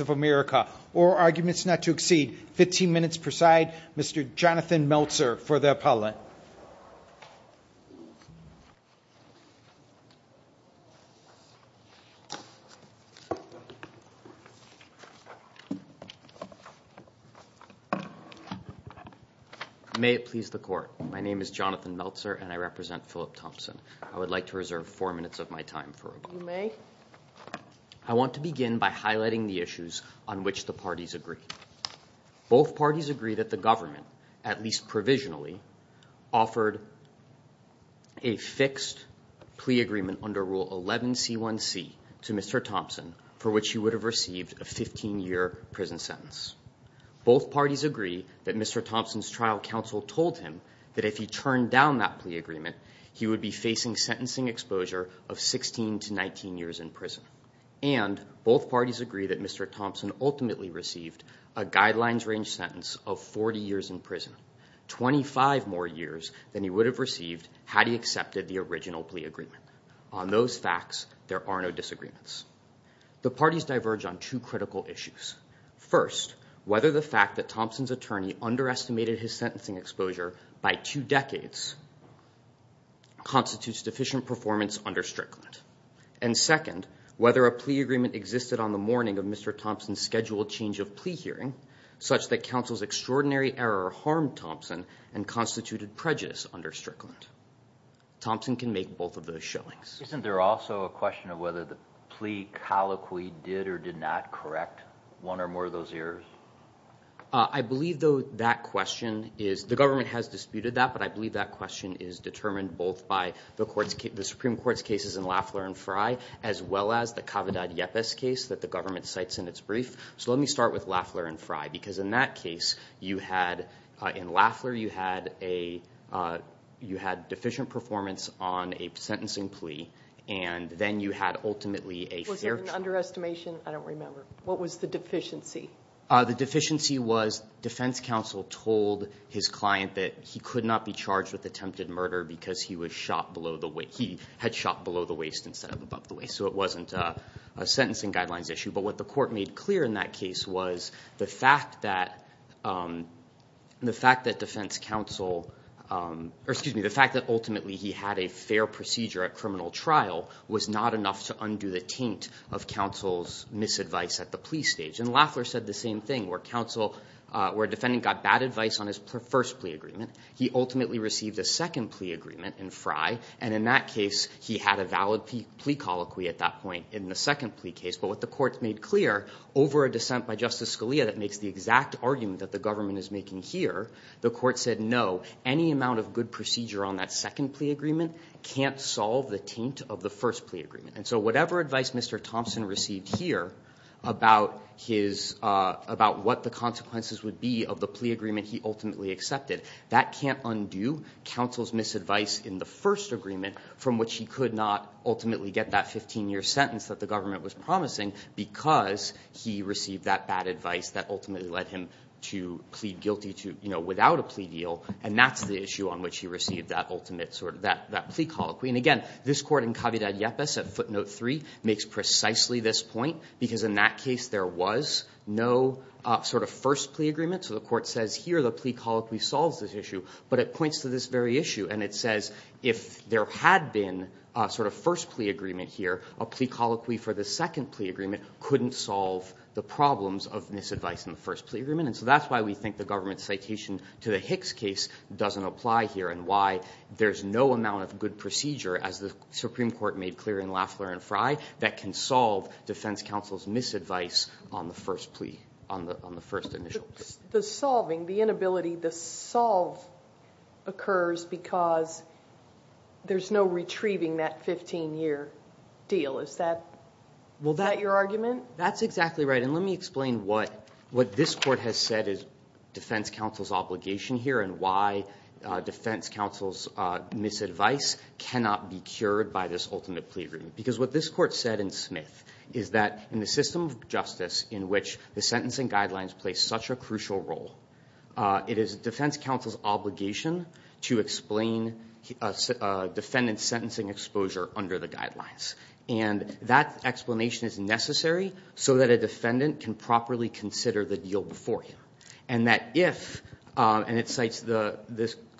of America or arguments not to exceed 15 minutes per side. Mr. Jonathan Meltzer for the appellate. May it please the court. My name is Jonathan Meltzer and I represent Philip Thompson. I would like to reserve four minutes of my time for rebuttal. You may. I want to begin by highlighting the issues on which the parties agree. Both parties agree that the government, at least provisionally, offered a fixed plea agreement under Rule 11C1C to Mr. Thompson for which he would have received a 15-year prison sentence. Both parties agree that Mr. Thompson's trial counsel told him that if he turned down that plea agreement, he would be facing sentencing exposure of 16 to 19 years in prison. And both parties agree that Mr. Thompson ultimately received a guidelines range sentence of 40 years in prison, 25 more years than he would have received had he accepted the original plea agreement. On those facts, there are no disagreements. The parties diverge on two critical issues. First, whether the fact that Thompson's attorney underestimated his sentencing exposure by two decades constitutes deficient performance under Strickland. And second, whether a plea agreement existed on the morning of Mr. Thompson's scheduled change of plea hearing such that counsel's extraordinary error harmed Thompson and constituted prejudice under Strickland. Thompson can make both of those showings. Isn't there also a question of whether the plea colloquy did or did not correct one or more of those errors? I believe, though, that question is – the government has disputed that, but I believe that question is determined both by the Supreme Court's cases in Lafler and Fry as well as the Kavadad-Yepes case that the government cites in its brief. So let me start with Lafler and Fry because in that case, you had – in Lafler, you had a – you had deficient performance on a sentencing plea, and then you had ultimately a fair trial. Was there an underestimation? I don't remember. What was the deficiency? The deficiency was defense counsel told his client that he could not be charged with attempted murder because he was shot below the – he had shot below the waist instead of above the waist, so it wasn't a sentencing guidelines issue. But what the court made clear in that case was the fact that defense counsel – or excuse me, the fact that ultimately he had a fair procedure at criminal trial was not enough to undo the taint of counsel's misadvice at the plea stage. And Lafler said the same thing where counsel – where a defendant got bad advice on his first plea agreement. He ultimately received a second plea agreement in Fry, and in that case, he had a valid plea colloquy at that point in the second plea case. But what the court made clear over a dissent by Justice Scalia that makes the exact argument that the government is making here, the court said no, any amount of good procedure on that second plea agreement can't solve the taint of the first plea agreement. And so whatever advice Mr. Thompson received here about his – about what the consequences would be of the plea agreement he ultimately accepted, that can't undo counsel's misadvice in the first agreement from which he could not ultimately get that 15-year sentence that the government was promising because he received that bad advice that ultimately led him to plead guilty to – you know, without a plea deal, and that's the issue on which he received that ultimate sort of – that plea colloquy. And again, this court in Cavidad-Yepes at footnote 3 makes precisely this point because in that case, there was no sort of first plea agreement. So the court says here the plea colloquy solves this issue, but it points to this very issue, and it says if there had been a sort of first plea agreement here, a plea colloquy for the second plea agreement couldn't solve the problems of misadvice in the first plea agreement. And so that's why we think the government's citation to the Hicks case doesn't apply here and why there's no amount of good procedure, as the Supreme Court made clear in Lafleur and Frey, that can solve defense counsel's misadvice on the first plea – on the first initial plea. The solving, the inability to solve occurs because there's no retrieving that 15-year deal. Is that – is that your argument? That's exactly right, and let me explain what this court has said is defense counsel's obligation here and why defense counsel's misadvice cannot be cured by this ultimate plea agreement. Because what this court said in Smith is that in the system of justice in which the sentencing guidelines play such a crucial role, it is defense counsel's obligation to explain defendant's sentencing exposure under the guidelines. And that explanation is necessary so that a defendant can properly consider the deal before him. And that if – and it cites the –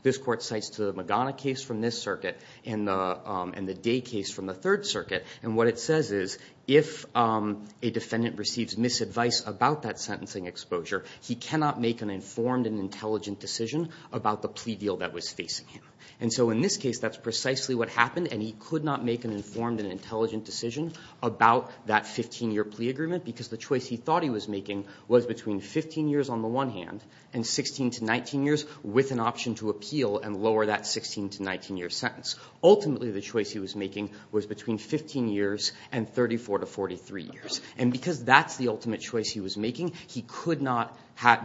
this court cites the Magana case from this circuit and the Day case from the Third Circuit. And what it says is if a defendant receives misadvice about that sentencing exposure, he cannot make an informed and intelligent decision about the plea deal that was facing him. And so in this case, that's precisely what happened, and he could not make an informed and intelligent decision about that 15-year plea agreement because the choice he thought he was making was between 15 years on the one hand and 16 to 19 years with an option to appeal and lower that 16 to 19-year sentence. Ultimately, the choice he was making was between 15 years and 34 to 43 years. And because that's the ultimate choice he was making, he could not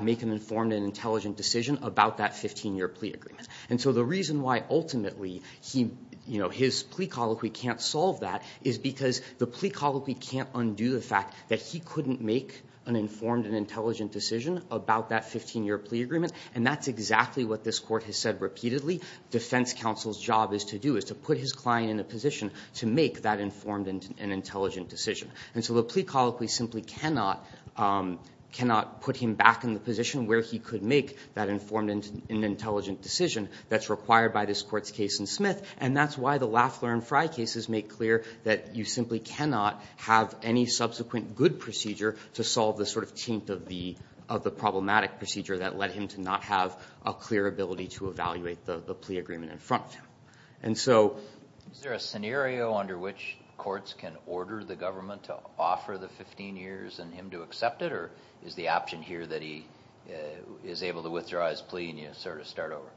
make an informed and intelligent decision about that 15-year plea agreement. And so the reason why ultimately he – you know, his plea colloquy can't solve that is because the plea colloquy can't undo the fact that he couldn't make an informed and intelligent decision about that 15-year plea agreement. And that's exactly what this court has said repeatedly. Defense counsel's job is to do is to put his client in a position to make that informed and intelligent decision. And so the plea colloquy simply cannot put him back in the position where he could make that informed and intelligent decision that's required by this court's case in Smith. And that's why the Lafleur and Frye cases make clear that you simply cannot have any subsequent good procedure to solve the sort of taint of the problematic procedure that led him to not have a clear ability to evaluate the plea agreement in front of him. And so – Is there a scenario under which courts can order the government to offer the 15 years and him to accept it? Or is the option here that he is able to withdraw his plea and you sort of start over?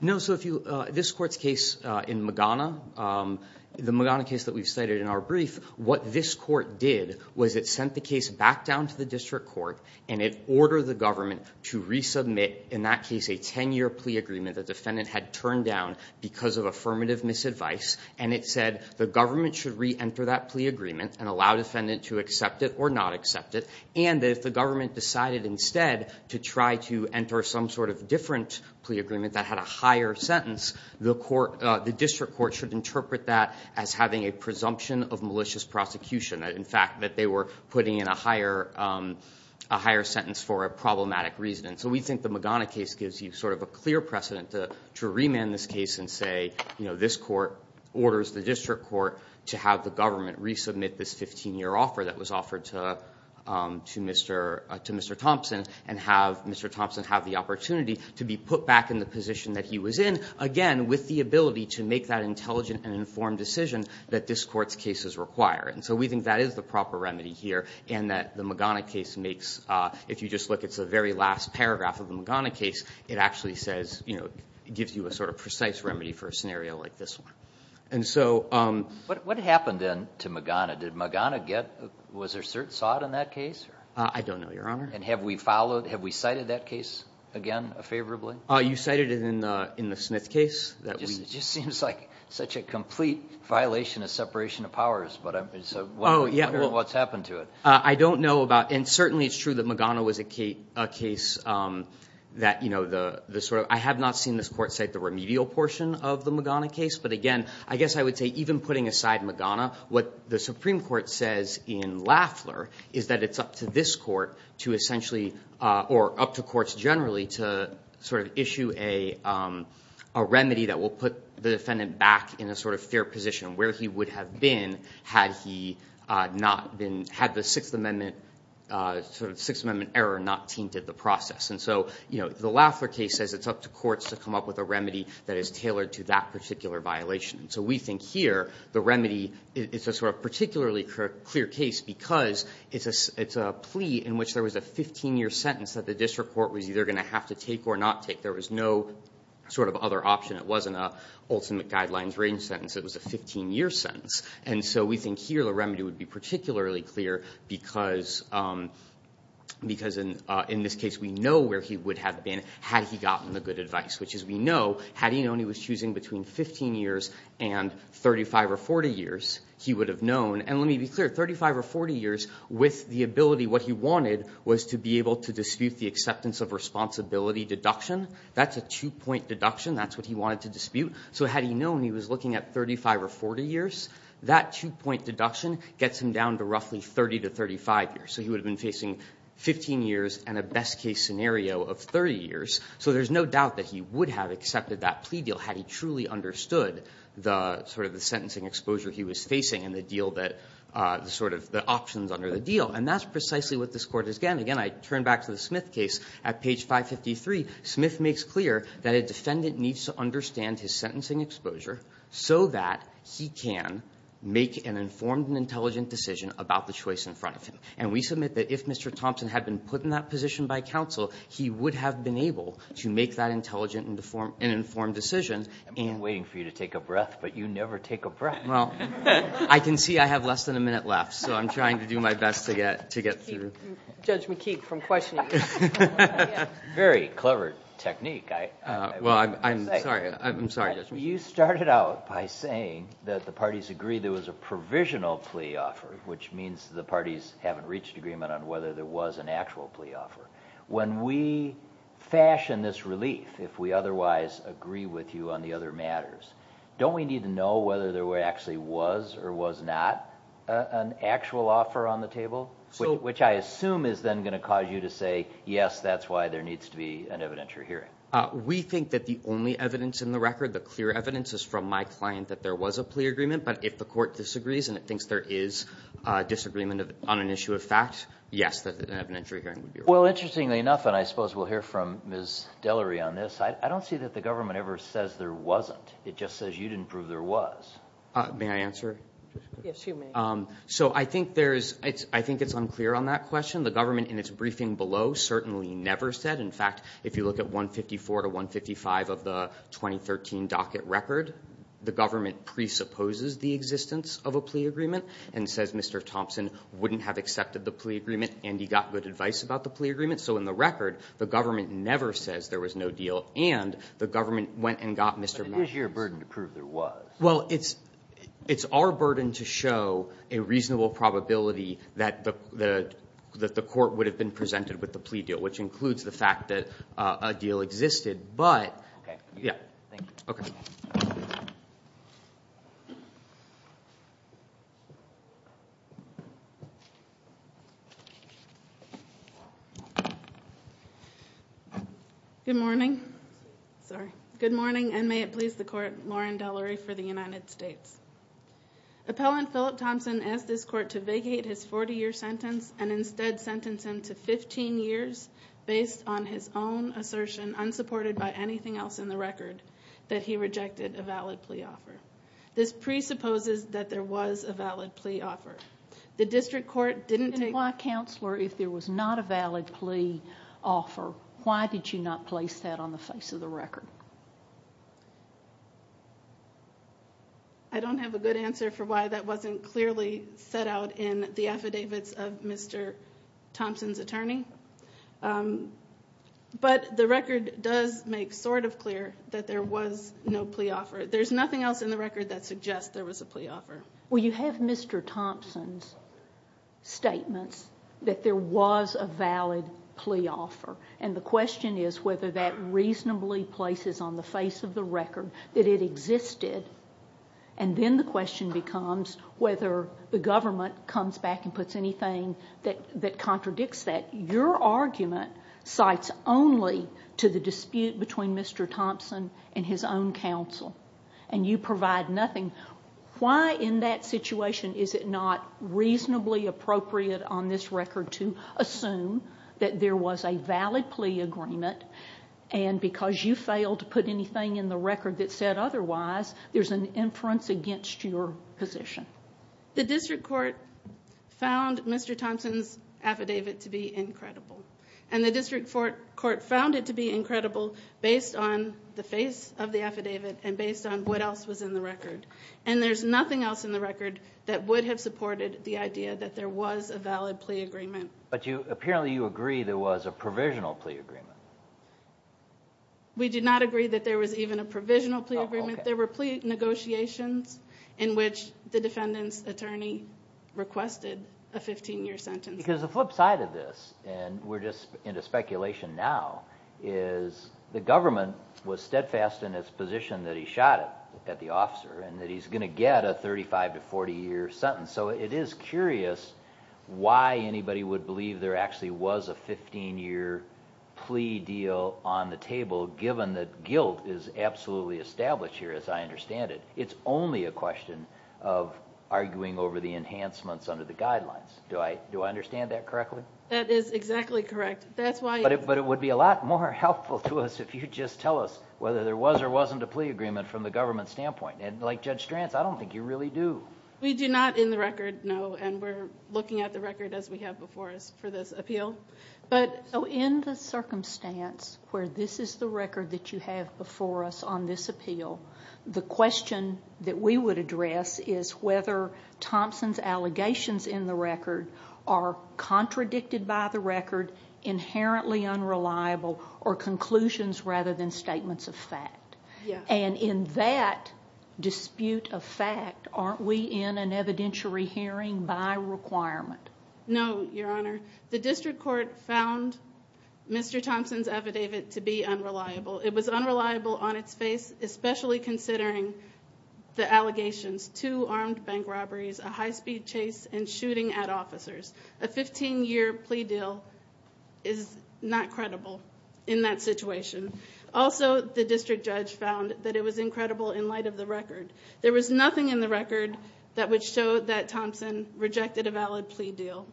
No, so if you – this court's case in Magana, the Magana case that we've cited in our brief, what this court did was it sent the case back down to the district court. And it ordered the government to resubmit, in that case, a 10-year plea agreement the defendant had turned down because of affirmative misadvice. And it said the government should reenter that plea agreement and allow defendant to accept it or not accept it. And that if the government decided instead to try to enter some sort of different plea agreement that had a higher sentence, the court – the district court should interpret that as having a presumption of malicious prosecution. In fact, that they were putting in a higher – a higher sentence for a problematic reason. And so we think the Magana case gives you sort of a clear precedent to remand this case and say, you know, this court orders the district court to have the government resubmit this 15-year offer that was offered to Mr. Thompson. And have Mr. Thompson have the opportunity to be put back in the position that he was in, again, with the ability to make that intelligent and informed decision that this court's case is requiring. And so we think that is the proper remedy here. And that the Magana case makes – if you just look, it's the very last paragraph of the Magana case. It actually says – you know, it gives you a sort of precise remedy for a scenario like this one. And so – What happened then to Magana? Did Magana get – was there cert – saw it in that case? I don't know, Your Honor. And have we followed – have we cited that case again favorably? You cited it in the Smith case. It just seems like such a complete violation of separation of powers. But it's – what's happened to it? I don't know about – and certainly it's true that Magana was a case that, you know, the sort of – I have not seen this court cite the remedial portion of the Magana case. But again, I guess I would say even putting aside Magana, what the Supreme Court says in Lafler is that it's up to this court to essentially – or up to courts generally to sort of issue a remedy that will put the defendant back in a sort of fair position where he would have been had he not been – had the Sixth Amendment – sort of Sixth Amendment error not tainted the process. And so, you know, the Lafler case says it's up to courts to come up with a remedy that is tailored to that particular violation. So we think here the remedy – it's a sort of particularly clear case because it's a plea in which there was a 15-year sentence that the district court was either going to have to take or not take. There was no sort of other option. It wasn't an ultimate guidelines range sentence. It was a 15-year sentence. And so we think here the remedy would be particularly clear because in this case we know where he would have been had he gotten the good advice, which is we know had he known he was choosing between 15 years and 35 or 40 years, he would have known – and let me be clear, 35 or 40 years with the ability – what he wanted was to be able to dispute the acceptance of responsibility deduction. That's a two-point deduction. That's what he wanted to dispute. So had he known he was looking at 35 or 40 years, that two-point deduction gets him down to roughly 30 to 35 years. So he would have been facing 15 years and a best-case scenario of 30 years. So there's no doubt that he would have accepted that plea deal had he truly understood the – sort of the sentencing exposure he was facing and the deal that – sort of the options under the deal. And that's precisely what this Court has done. Again, I turn back to the Smith case. At page 553, Smith makes clear that a defendant needs to understand his sentencing exposure so that he can make an informed and intelligent decision about the choice in front of him. And we submit that if Mr. Thompson had been put in that position by counsel, he would have been able to make that intelligent and informed decision and – I've been waiting for you to take a breath, but you never take a breath. Well, I can see I have less than a minute left, so I'm trying to do my best to get through. Judge McKeague, from questioning. Very clever technique. Well, I'm sorry. I'm sorry, Judge McKeague. You started out by saying that the parties agreed there was a provisional plea offer, which means the parties haven't reached agreement on whether there was an actual plea offer. When we fashion this relief, if we otherwise agree with you on the other matters, don't we need to know whether there actually was or was not an actual offer on the table? Which I assume is then going to cause you to say, yes, that's why there needs to be an evidentiary hearing. We think that the only evidence in the record, the clear evidence, is from my client that there was a plea agreement, but if the court disagrees and it thinks there is disagreement on an issue of fact, yes, an evidentiary hearing would be required. Well, interestingly enough, and I suppose we'll hear from Ms. Delery on this, I don't see that the government ever says there wasn't. It just says you didn't prove there was. May I answer? Yes, you may. So I think it's unclear on that question. The government in its briefing below certainly never said. In fact, if you look at 154 to 155 of the 2013 docket record, the government presupposes the existence of a plea agreement and says Mr. Thompson wouldn't have accepted the plea agreement and he got good advice about the plea agreement. So in the record, the government never says there was no deal, and the government went and got Mr. Matthews. But it is your burden to prove there was. Well, it's our burden to show a reasonable probability that the court would have been presented with the plea deal, which includes the fact that a deal existed. Okay. Yeah. Thank you. Okay. Good morning. Sorry. Good morning, and may it please the court, Lauren Delery for the United States. Appellant Philip Thompson asked this court to vacate his 40-year sentence and instead sentence him to 15 years based on his own assertion, unsupported by anything else in the record, that he rejected a valid plea offer. This presupposes that there was a valid plea offer. The district court didn't take the case. Why, Counselor, if there was not a valid plea offer, why did you not place that on the face of the record? I don't have a good answer for why that wasn't clearly set out in the affidavits of Mr. Thompson's attorney. But the record does make sort of clear that there was no plea offer. There's nothing else in the record that suggests there was a plea offer. Well, you have Mr. Thompson's statements that there was a valid plea offer, and the question is whether that reasonably places on the face of the record that it existed, and then the question becomes whether the government comes back and puts anything that contradicts that. Your argument cites only to the dispute between Mr. Thompson and his own counsel, and you provide nothing. Why in that situation is it not reasonably appropriate on this record to assume that there was a valid plea agreement, and because you failed to put anything in the record that said otherwise, there's an inference against your position? The district court found Mr. Thompson's affidavit to be incredible, and the district court found it to be incredible based on the face of the affidavit and based on what else was in the record, and there's nothing else in the record that would have supported the idea that there was a valid plea agreement. But apparently you agree there was a provisional plea agreement. We did not agree that there was even a provisional plea agreement. There were plea negotiations in which the defendant's attorney requested a 15-year sentence. Because the flip side of this, and we're just into speculation now, is the government was steadfast in its position that he shot at the officer and that he's going to get a 35- to 40-year sentence, so it is curious why anybody would believe there actually was a 15-year plea deal on the table given that guilt is absolutely established here, as I understand it. It's only a question of arguing over the enhancements under the guidelines. Do I understand that correctly? That is exactly correct. But it would be a lot more helpful to us if you could just tell us whether there was or wasn't a plea agreement from the government standpoint. And like Judge Stranz, I don't think you really do. We do not in the record know, and we're looking at the record as we have before us for this appeal. In the circumstance where this is the record that you have before us on this appeal, the question that we would address is whether Thompson's allegations in the record are contradicted by the record, inherently unreliable, or conclusions rather than statements of fact. And in that dispute of fact, aren't we in an evidentiary hearing by requirement? No, Your Honor. The district court found Mr. Thompson's affidavit to be unreliable. It was unreliable on its face, especially considering the allegations, two armed bank robberies, a high-speed chase, and shooting at officers. A 15-year plea deal is not credible in that situation. Also, the district judge found that it was incredible in light of the record. There was nothing in the record that would show that Thompson rejected a valid plea deal.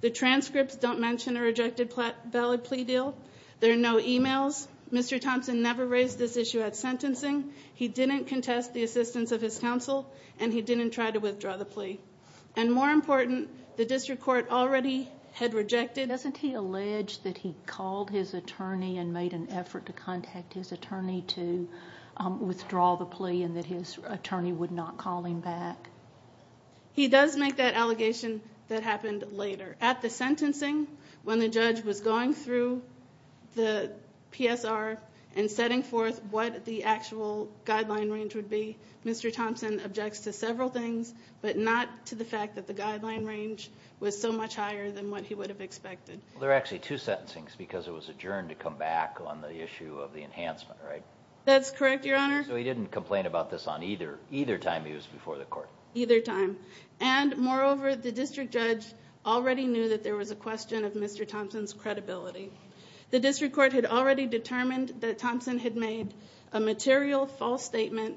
The transcripts don't mention a rejected valid plea deal. There are no e-mails. Mr. Thompson never raised this issue at sentencing. He didn't contest the assistance of his counsel, and he didn't try to withdraw the plea. And more important, the district court already had rejected. Doesn't he allege that he called his attorney and made an effort to contact his attorney to withdraw the plea and that his attorney would not call him back? He does make that allegation that happened later. At the sentencing, when the judge was going through the PSR and setting forth what the actual guideline range would be, Mr. Thompson objects to several things, but not to the fact that the guideline range was so much higher than what he would have expected. There are actually two sentencings because it was adjourned to come back on the issue of the enhancement, right? That's correct, Your Honor. So he didn't complain about this on either time he was before the court? Either time. And moreover, the district judge already knew that there was a question of Mr. Thompson's credibility. The district court had already determined that Thompson had made a material false statement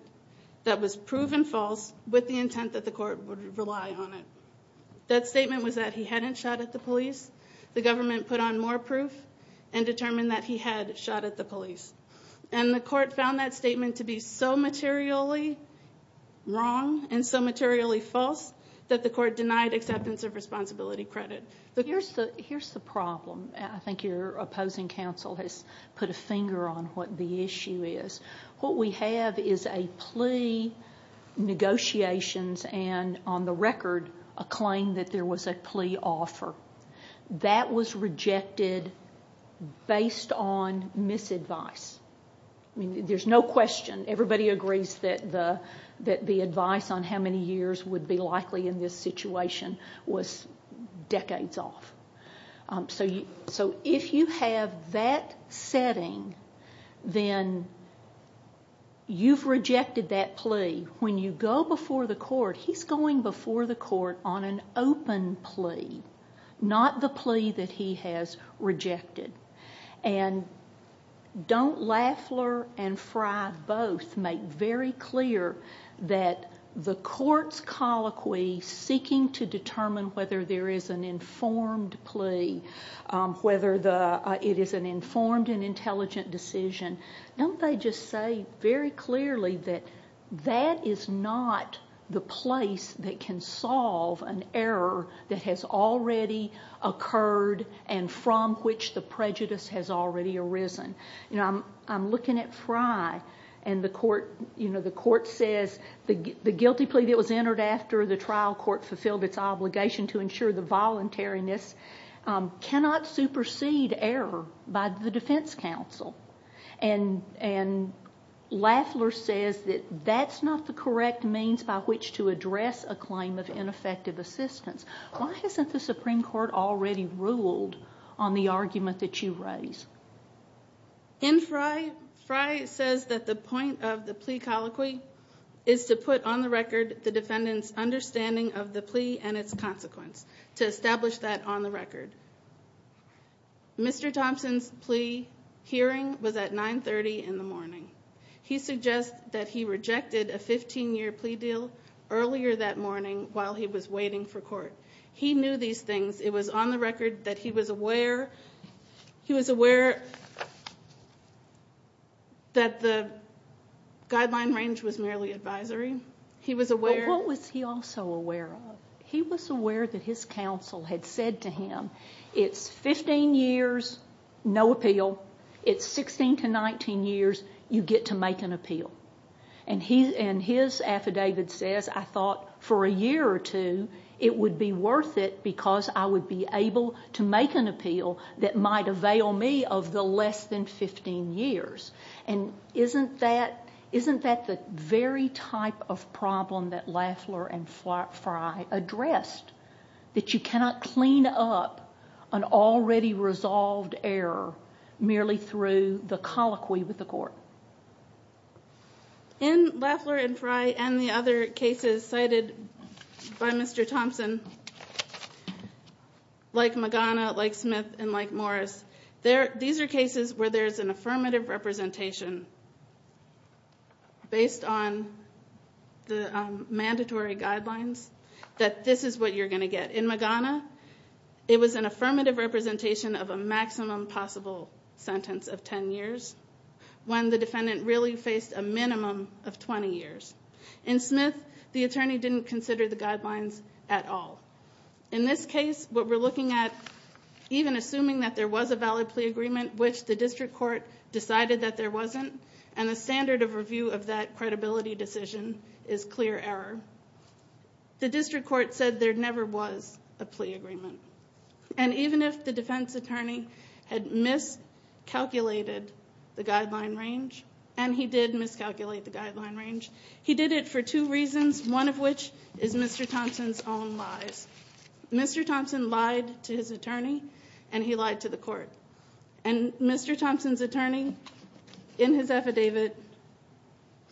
that was proven false with the intent that the court would rely on it. That statement was that he hadn't shot at the police. The government put on more proof and determined that he had shot at the police. And the court found that statement to be so materially wrong and so materially false that the court denied acceptance of responsibility credit. Here's the problem. I think your opposing counsel has put a finger on what the issue is. What we have is a plea negotiations and, on the record, a claim that there was a plea offer. That was rejected based on misadvice. I mean, there's no question. Everybody agrees that the advice on how many years would be likely in this situation was decades off. So if you have that setting, then you've rejected that plea. When you go before the court, he's going before the court on an open plea, not the plea that he has rejected. And don't Laffler and Fry both make very clear that the court's colloquy seeking to determine whether there is an informed plea, whether it is an informed and intelligent decision, don't they just say very clearly that that is not the place that can solve an error that has already occurred and from which the prejudice has already arisen? I'm looking at Fry, and the court says the guilty plea that was entered after the trial court fulfilled its obligation to ensure the voluntariness cannot supersede error by the defense counsel. And Laffler says that that's not the correct means by which to address a claim of ineffective assistance. Why hasn't the Supreme Court already ruled on the argument that you raise? In Fry, Fry says that the point of the plea colloquy is to put on the record the defendant's understanding of the plea and its consequence, to establish that on the record. Mr. Thompson's plea hearing was at 9.30 in the morning. He suggests that he rejected a 15-year plea deal earlier that morning while he was waiting for court. He knew these things. It was on the record that he was aware that the guideline range was merely advisory. Well, what was he also aware of? He was aware that his counsel had said to him, it's 15 years, no appeal. It's 16 to 19 years, you get to make an appeal. And his affidavit says, I thought, for a year or two, it would be worth it because I would be able to make an appeal that might avail me of the less than 15 years. And isn't that the very type of problem that Lafleur and Fry addressed, that you cannot clean up an already resolved error merely through the colloquy with the court? In Lafleur and Fry and the other cases cited by Mr. Thompson, like Magana, like Smith, and like Morris, these are cases where there's an affirmative representation based on the mandatory guidelines that this is what you're going to get. In Magana, it was an affirmative representation of a maximum possible sentence of 10 years when the defendant really faced a minimum of 20 years. In Smith, the attorney didn't consider the guidelines at all. In this case, what we're looking at, even assuming that there was a valid plea agreement, which the district court decided that there wasn't, and the standard of review of that credibility decision is clear error. The district court said there never was a plea agreement. And even if the defense attorney had miscalculated the guideline range, and he did miscalculate the guideline range, he did it for two reasons, one of which is Mr. Thompson's own lies. Mr. Thompson lied to his attorney, and he lied to the court. And Mr. Thompson's attorney in his affidavit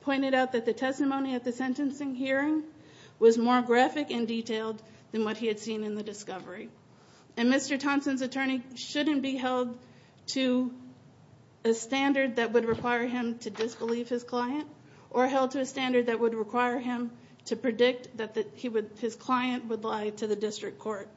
pointed out that the testimony at the sentencing hearing was more graphic and detailed than what he had seen in the discovery. And Mr. Thompson's attorney shouldn't be held to a standard that would require him to disbelieve his client or held to a standard that would require him to predict that his client would lie to the district court.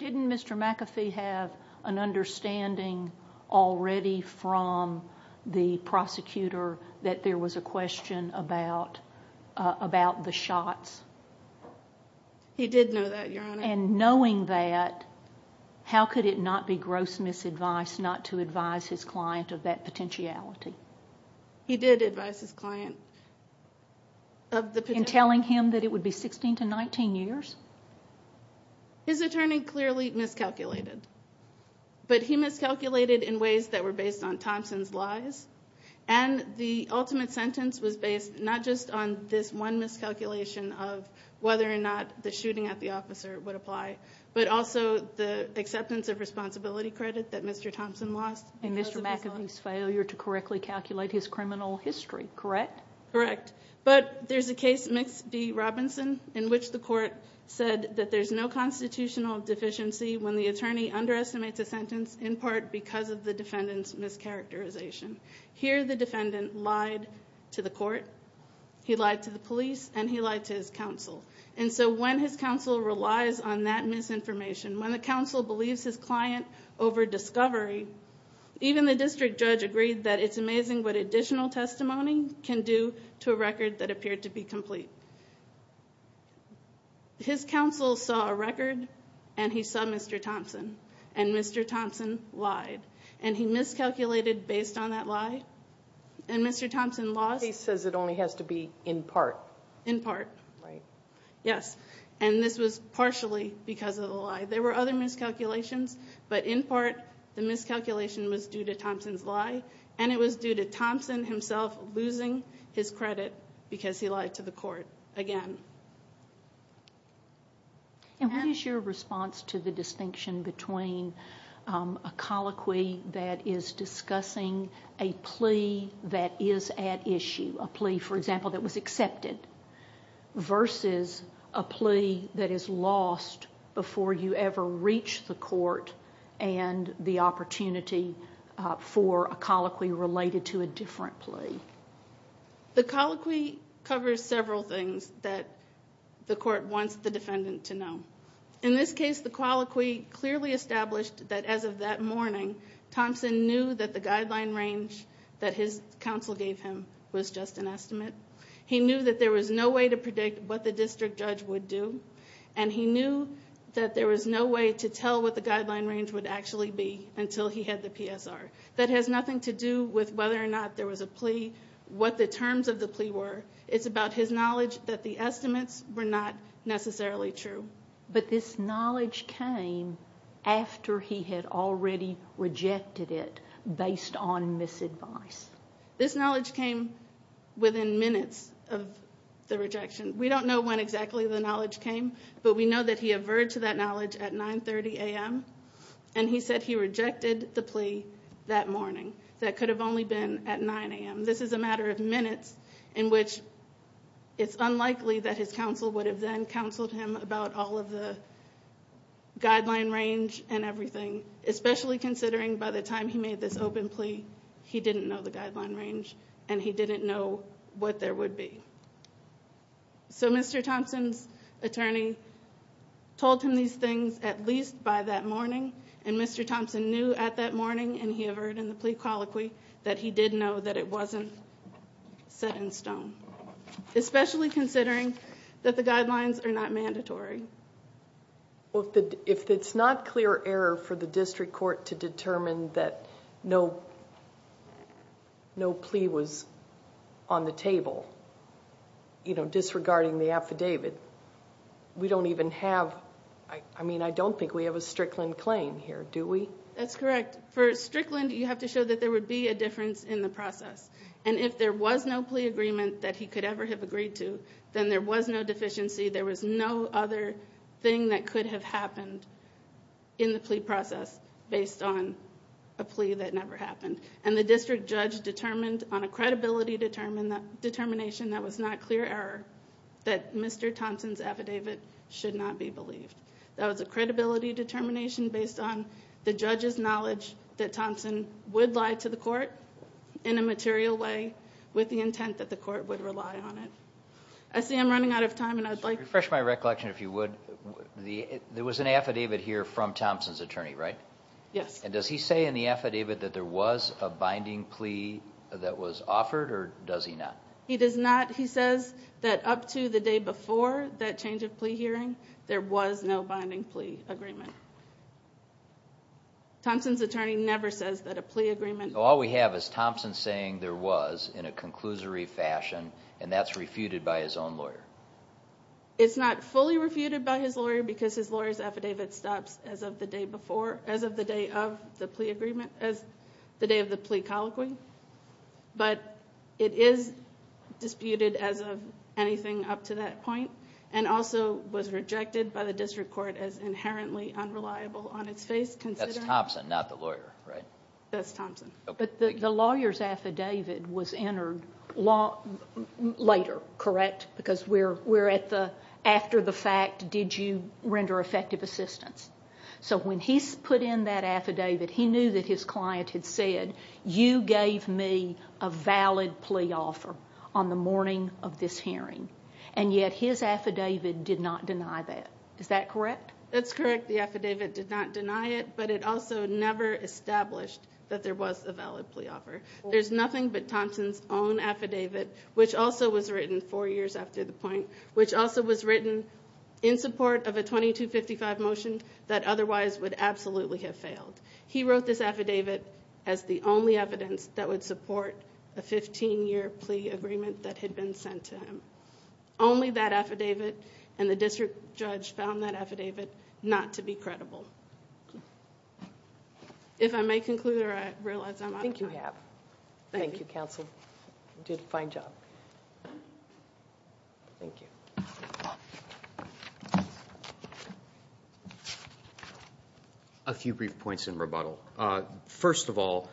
Didn't Mr. McAfee have an understanding already from the prosecutor that there was a question about the shots? And knowing that, how could it not be gross misadvice not to advise his client of that potentiality? He did advise his client of the potentiality. In telling him that it would be 16 to 19 years? His attorney clearly miscalculated. But he miscalculated in ways that were based on Thompson's lies, and the ultimate sentence was based not just on this one miscalculation of whether or not the shooting at the officer would apply, but also the acceptance of responsibility credit that Mr. Thompson lost. And Mr. McAfee's failure to correctly calculate his criminal history, correct? Correct. But there's a case, Mix v. Robinson, in which the court said that there's no constitutional deficiency when the attorney underestimates a sentence in part because of the defendant's mischaracterization. Here the defendant lied to the court, he lied to the police, and he lied to his counsel. And so when his counsel relies on that misinformation, when the counsel believes his client over-discovery, even the district judge agreed that it's amazing what additional testimony can do to a record that appeared to be complete. His counsel saw a record, and he saw Mr. Thompson, and Mr. Thompson lied. And he miscalculated based on that lie, and Mr. Thompson lost. The case says it only has to be in part. In part. Right. Yes, and this was partially because of the lie. There were other miscalculations, but in part the miscalculation was due to Thompson's lie, and it was due to Thompson himself losing his credit because he lied to the court again. And what is your response to the distinction between a colloquy that is discussing a plea that is at issue, a plea, for example, that was accepted, versus a plea that is lost before you ever reach the court and the opportunity for a colloquy related to a different plea? The colloquy covers several things that the court wants the defendant to know. In this case, the colloquy clearly established that as of that morning, Thompson knew that the guideline range that his counsel gave him was just an estimate. He knew that there was no way to predict what the district judge would do, and he knew that there was no way to tell what the guideline range would actually be until he had the PSR. That has nothing to do with whether or not there was a plea, what the terms of the plea were. It's about his knowledge that the estimates were not necessarily true. But this knowledge came after he had already rejected it based on misadvice. This knowledge came within minutes of the rejection. We don't know when exactly the knowledge came, but we know that he averred to that knowledge at 9.30 a.m., and he said he rejected the plea that morning. That could have only been at 9 a.m. This is a matter of minutes in which it's unlikely that his counsel would have then counseled him about all of the guideline range and everything, especially considering by the time he made this open plea he didn't know the guideline range and he didn't know what there would be. So Mr. Thompson's attorney told him these things at least by that morning, and Mr. Thompson knew at that morning, and he averred in the plea colloquy, that he did know that it wasn't set in stone, especially considering that the guidelines are not mandatory. Well, if it's not clear error for the district court to determine that no plea was on the table, you know, disregarding the affidavit, we don't even have, I mean, I don't think we have a Strickland claim here, do we? That's correct. But for Strickland, you have to show that there would be a difference in the process. And if there was no plea agreement that he could ever have agreed to, then there was no deficiency, there was no other thing that could have happened in the plea process based on a plea that never happened. And the district judge determined on a credibility determination that was not clear error that Mr. Thompson's affidavit should not be believed. That was a credibility determination based on the judge's knowledge that Thompson would lie to the court in a material way with the intent that the court would rely on it. I see I'm running out of time, and I'd like to... Refresh my recollection, if you would. There was an affidavit here from Thompson's attorney, right? Yes. And does he say in the affidavit that there was a binding plea that was offered, or does he not? He does not. He says that up to the day before that change of plea hearing, there was no binding plea agreement. Thompson's attorney never says that a plea agreement... All we have is Thompson saying there was in a conclusory fashion, and that's refuted by his own lawyer. It's not fully refuted by his lawyer because his lawyer's affidavit stops as of the day before, as of the day of the plea agreement, as the day of the plea colloquy. But it is disputed as of anything up to that point, and also was rejected by the district court as inherently unreliable on its face considering... That's Thompson, not the lawyer, right? That's Thompson. But the lawyer's affidavit was entered later, correct? Because we're after the fact, did you render effective assistance? So when he put in that affidavit, he knew that his client had said, you gave me a valid plea offer on the morning of this hearing, and yet his affidavit did not deny that. Is that correct? That's correct. The affidavit did not deny it, but it also never established that there was a valid plea offer. There's nothing but Thompson's own affidavit, which also was written four years after the point, which also was written in support of a 2255 motion that otherwise would absolutely have failed. He wrote this affidavit as the only evidence that would support a 15-year plea agreement that had been sent to him. Only that affidavit, and the district judge found that affidavit not to be credible. If I may conclude, or I realize I'm out of time. Thank you, counsel. You did a fine job. Thank you. A few brief points in rebuttal. First of all,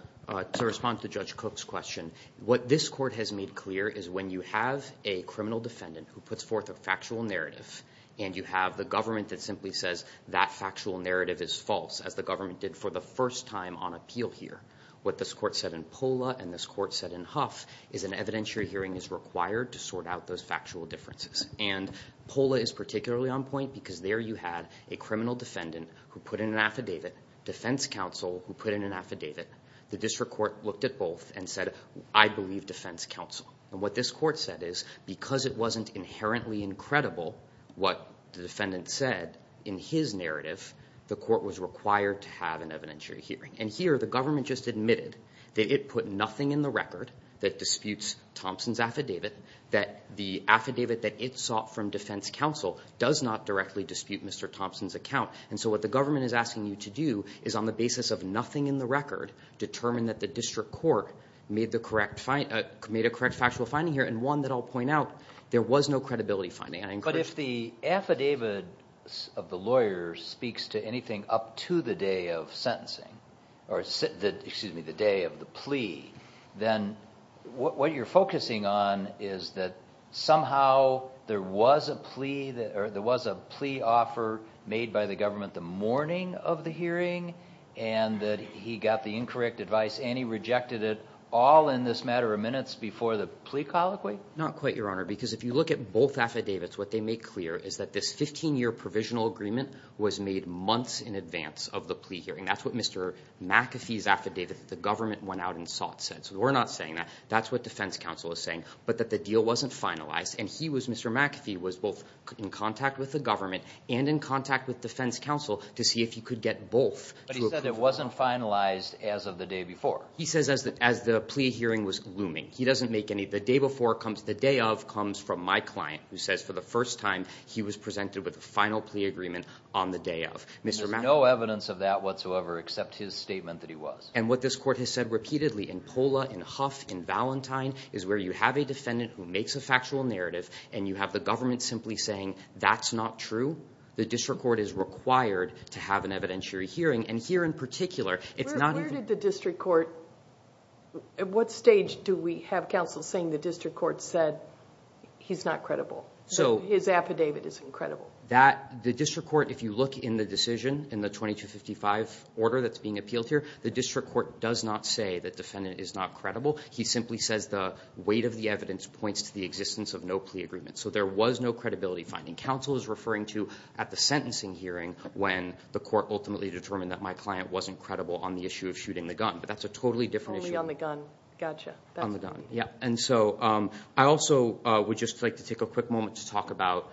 to respond to Judge Cook's question, what this court has made clear is when you have a criminal defendant who puts forth a factual narrative and you have the government that simply says that factual narrative is false, as the government did for the first time on appeal here, what this court said in Pola and this court said in Huff is an evidentiary hearing is required to sort out those factual differences. And Pola is particularly on point because there you had a criminal defendant who put in an affidavit, defense counsel who put in an affidavit. The district court looked at both and said, I believe defense counsel. And what this court said is because it wasn't inherently incredible what the defendant said in his narrative, the court was required to have an evidentiary hearing. And here the government just admitted that it put nothing in the record that disputes Thompson's affidavit, that the affidavit that it sought from defense counsel does not directly dispute Mr. Thompson's account. And so what the government is asking you to do is on the basis of nothing in the record, determine that the district court made a correct factual finding here, and one that I'll point out, there was no credibility finding. But if the affidavit of the lawyer speaks to anything up to the day of sentencing, or excuse me, the day of the plea, then what you're focusing on is that somehow there was a plea offer made by the government the morning of the hearing and that he got the incorrect advice and he rejected it all in this matter of minutes before the plea colloquy? Not quite, Your Honor, because if you look at both affidavits, what they make clear is that this 15-year provisional agreement was made months in advance of the plea hearing. That's what Mr. McAfee's affidavit that the government went out and sought said. So we're not saying that. That's what defense counsel is saying, but that the deal wasn't finalized, and Mr. McAfee was both in contact with the government and in contact with defense counsel to see if he could get both. But he said it wasn't finalized as of the day before. He says as the plea hearing was looming. He doesn't make any. The day of comes from my client, who says for the first time he was presented with a final plea agreement on the day of. There's no evidence of that whatsoever except his statement that he was. And what this court has said repeatedly in POLA, in Huff, in Valentine, is where you have a defendant who makes a factual narrative and you have the government simply saying that's not true, the district court is required to have an evidentiary hearing. Where did the district court, at what stage do we have counsel saying the district court said he's not credible? His affidavit is incredible. The district court, if you look in the decision in the 2255 order that's being appealed here, the district court does not say the defendant is not credible. He simply says the weight of the evidence points to the existence of no plea agreement. So there was no credibility finding. Counsel is referring to at the sentencing hearing when the court ultimately determined that my client wasn't credible on the issue of shooting the gun. But that's a totally different issue. Only on the gun. Gotcha. On the gun, yeah. And so I also would just like to take a quick moment to talk about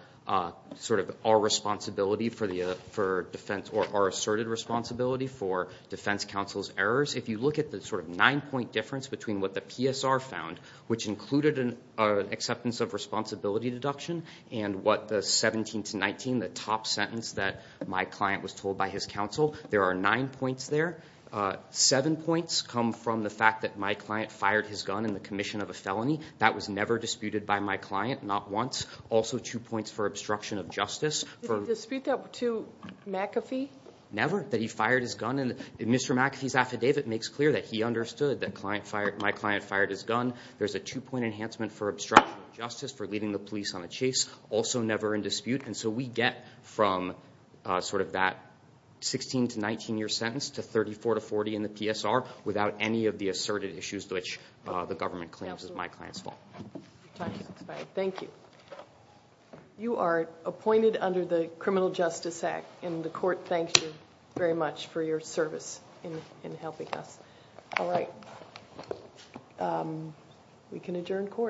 sort of our responsibility for defense or our asserted responsibility for defense counsel's errors. If you look at the sort of nine-point difference between what the PSR found, which included an acceptance of responsibility deduction, and what the 17 to 19, the top sentence that my client was told by his counsel, there are nine points there. Seven points come from the fact that my client fired his gun in the commission of a felony. That was never disputed by my client, not once. Also two points for obstruction of justice. Did he dispute that to McAfee? Never. That he fired his gun. Mr. McAfee's affidavit makes clear that he understood that my client fired his gun. There's a two-point enhancement for obstruction of justice for leading the police on a chase. Also never in dispute. And so we get from sort of that 16 to 19-year sentence to 34 to 40 in the PSR without any of the asserted issues which the government claims is my client's fault. Thank you. You are appointed under the Criminal Justice Act, and the court thanks you very much for your service in helping us. All right. We can adjourn court.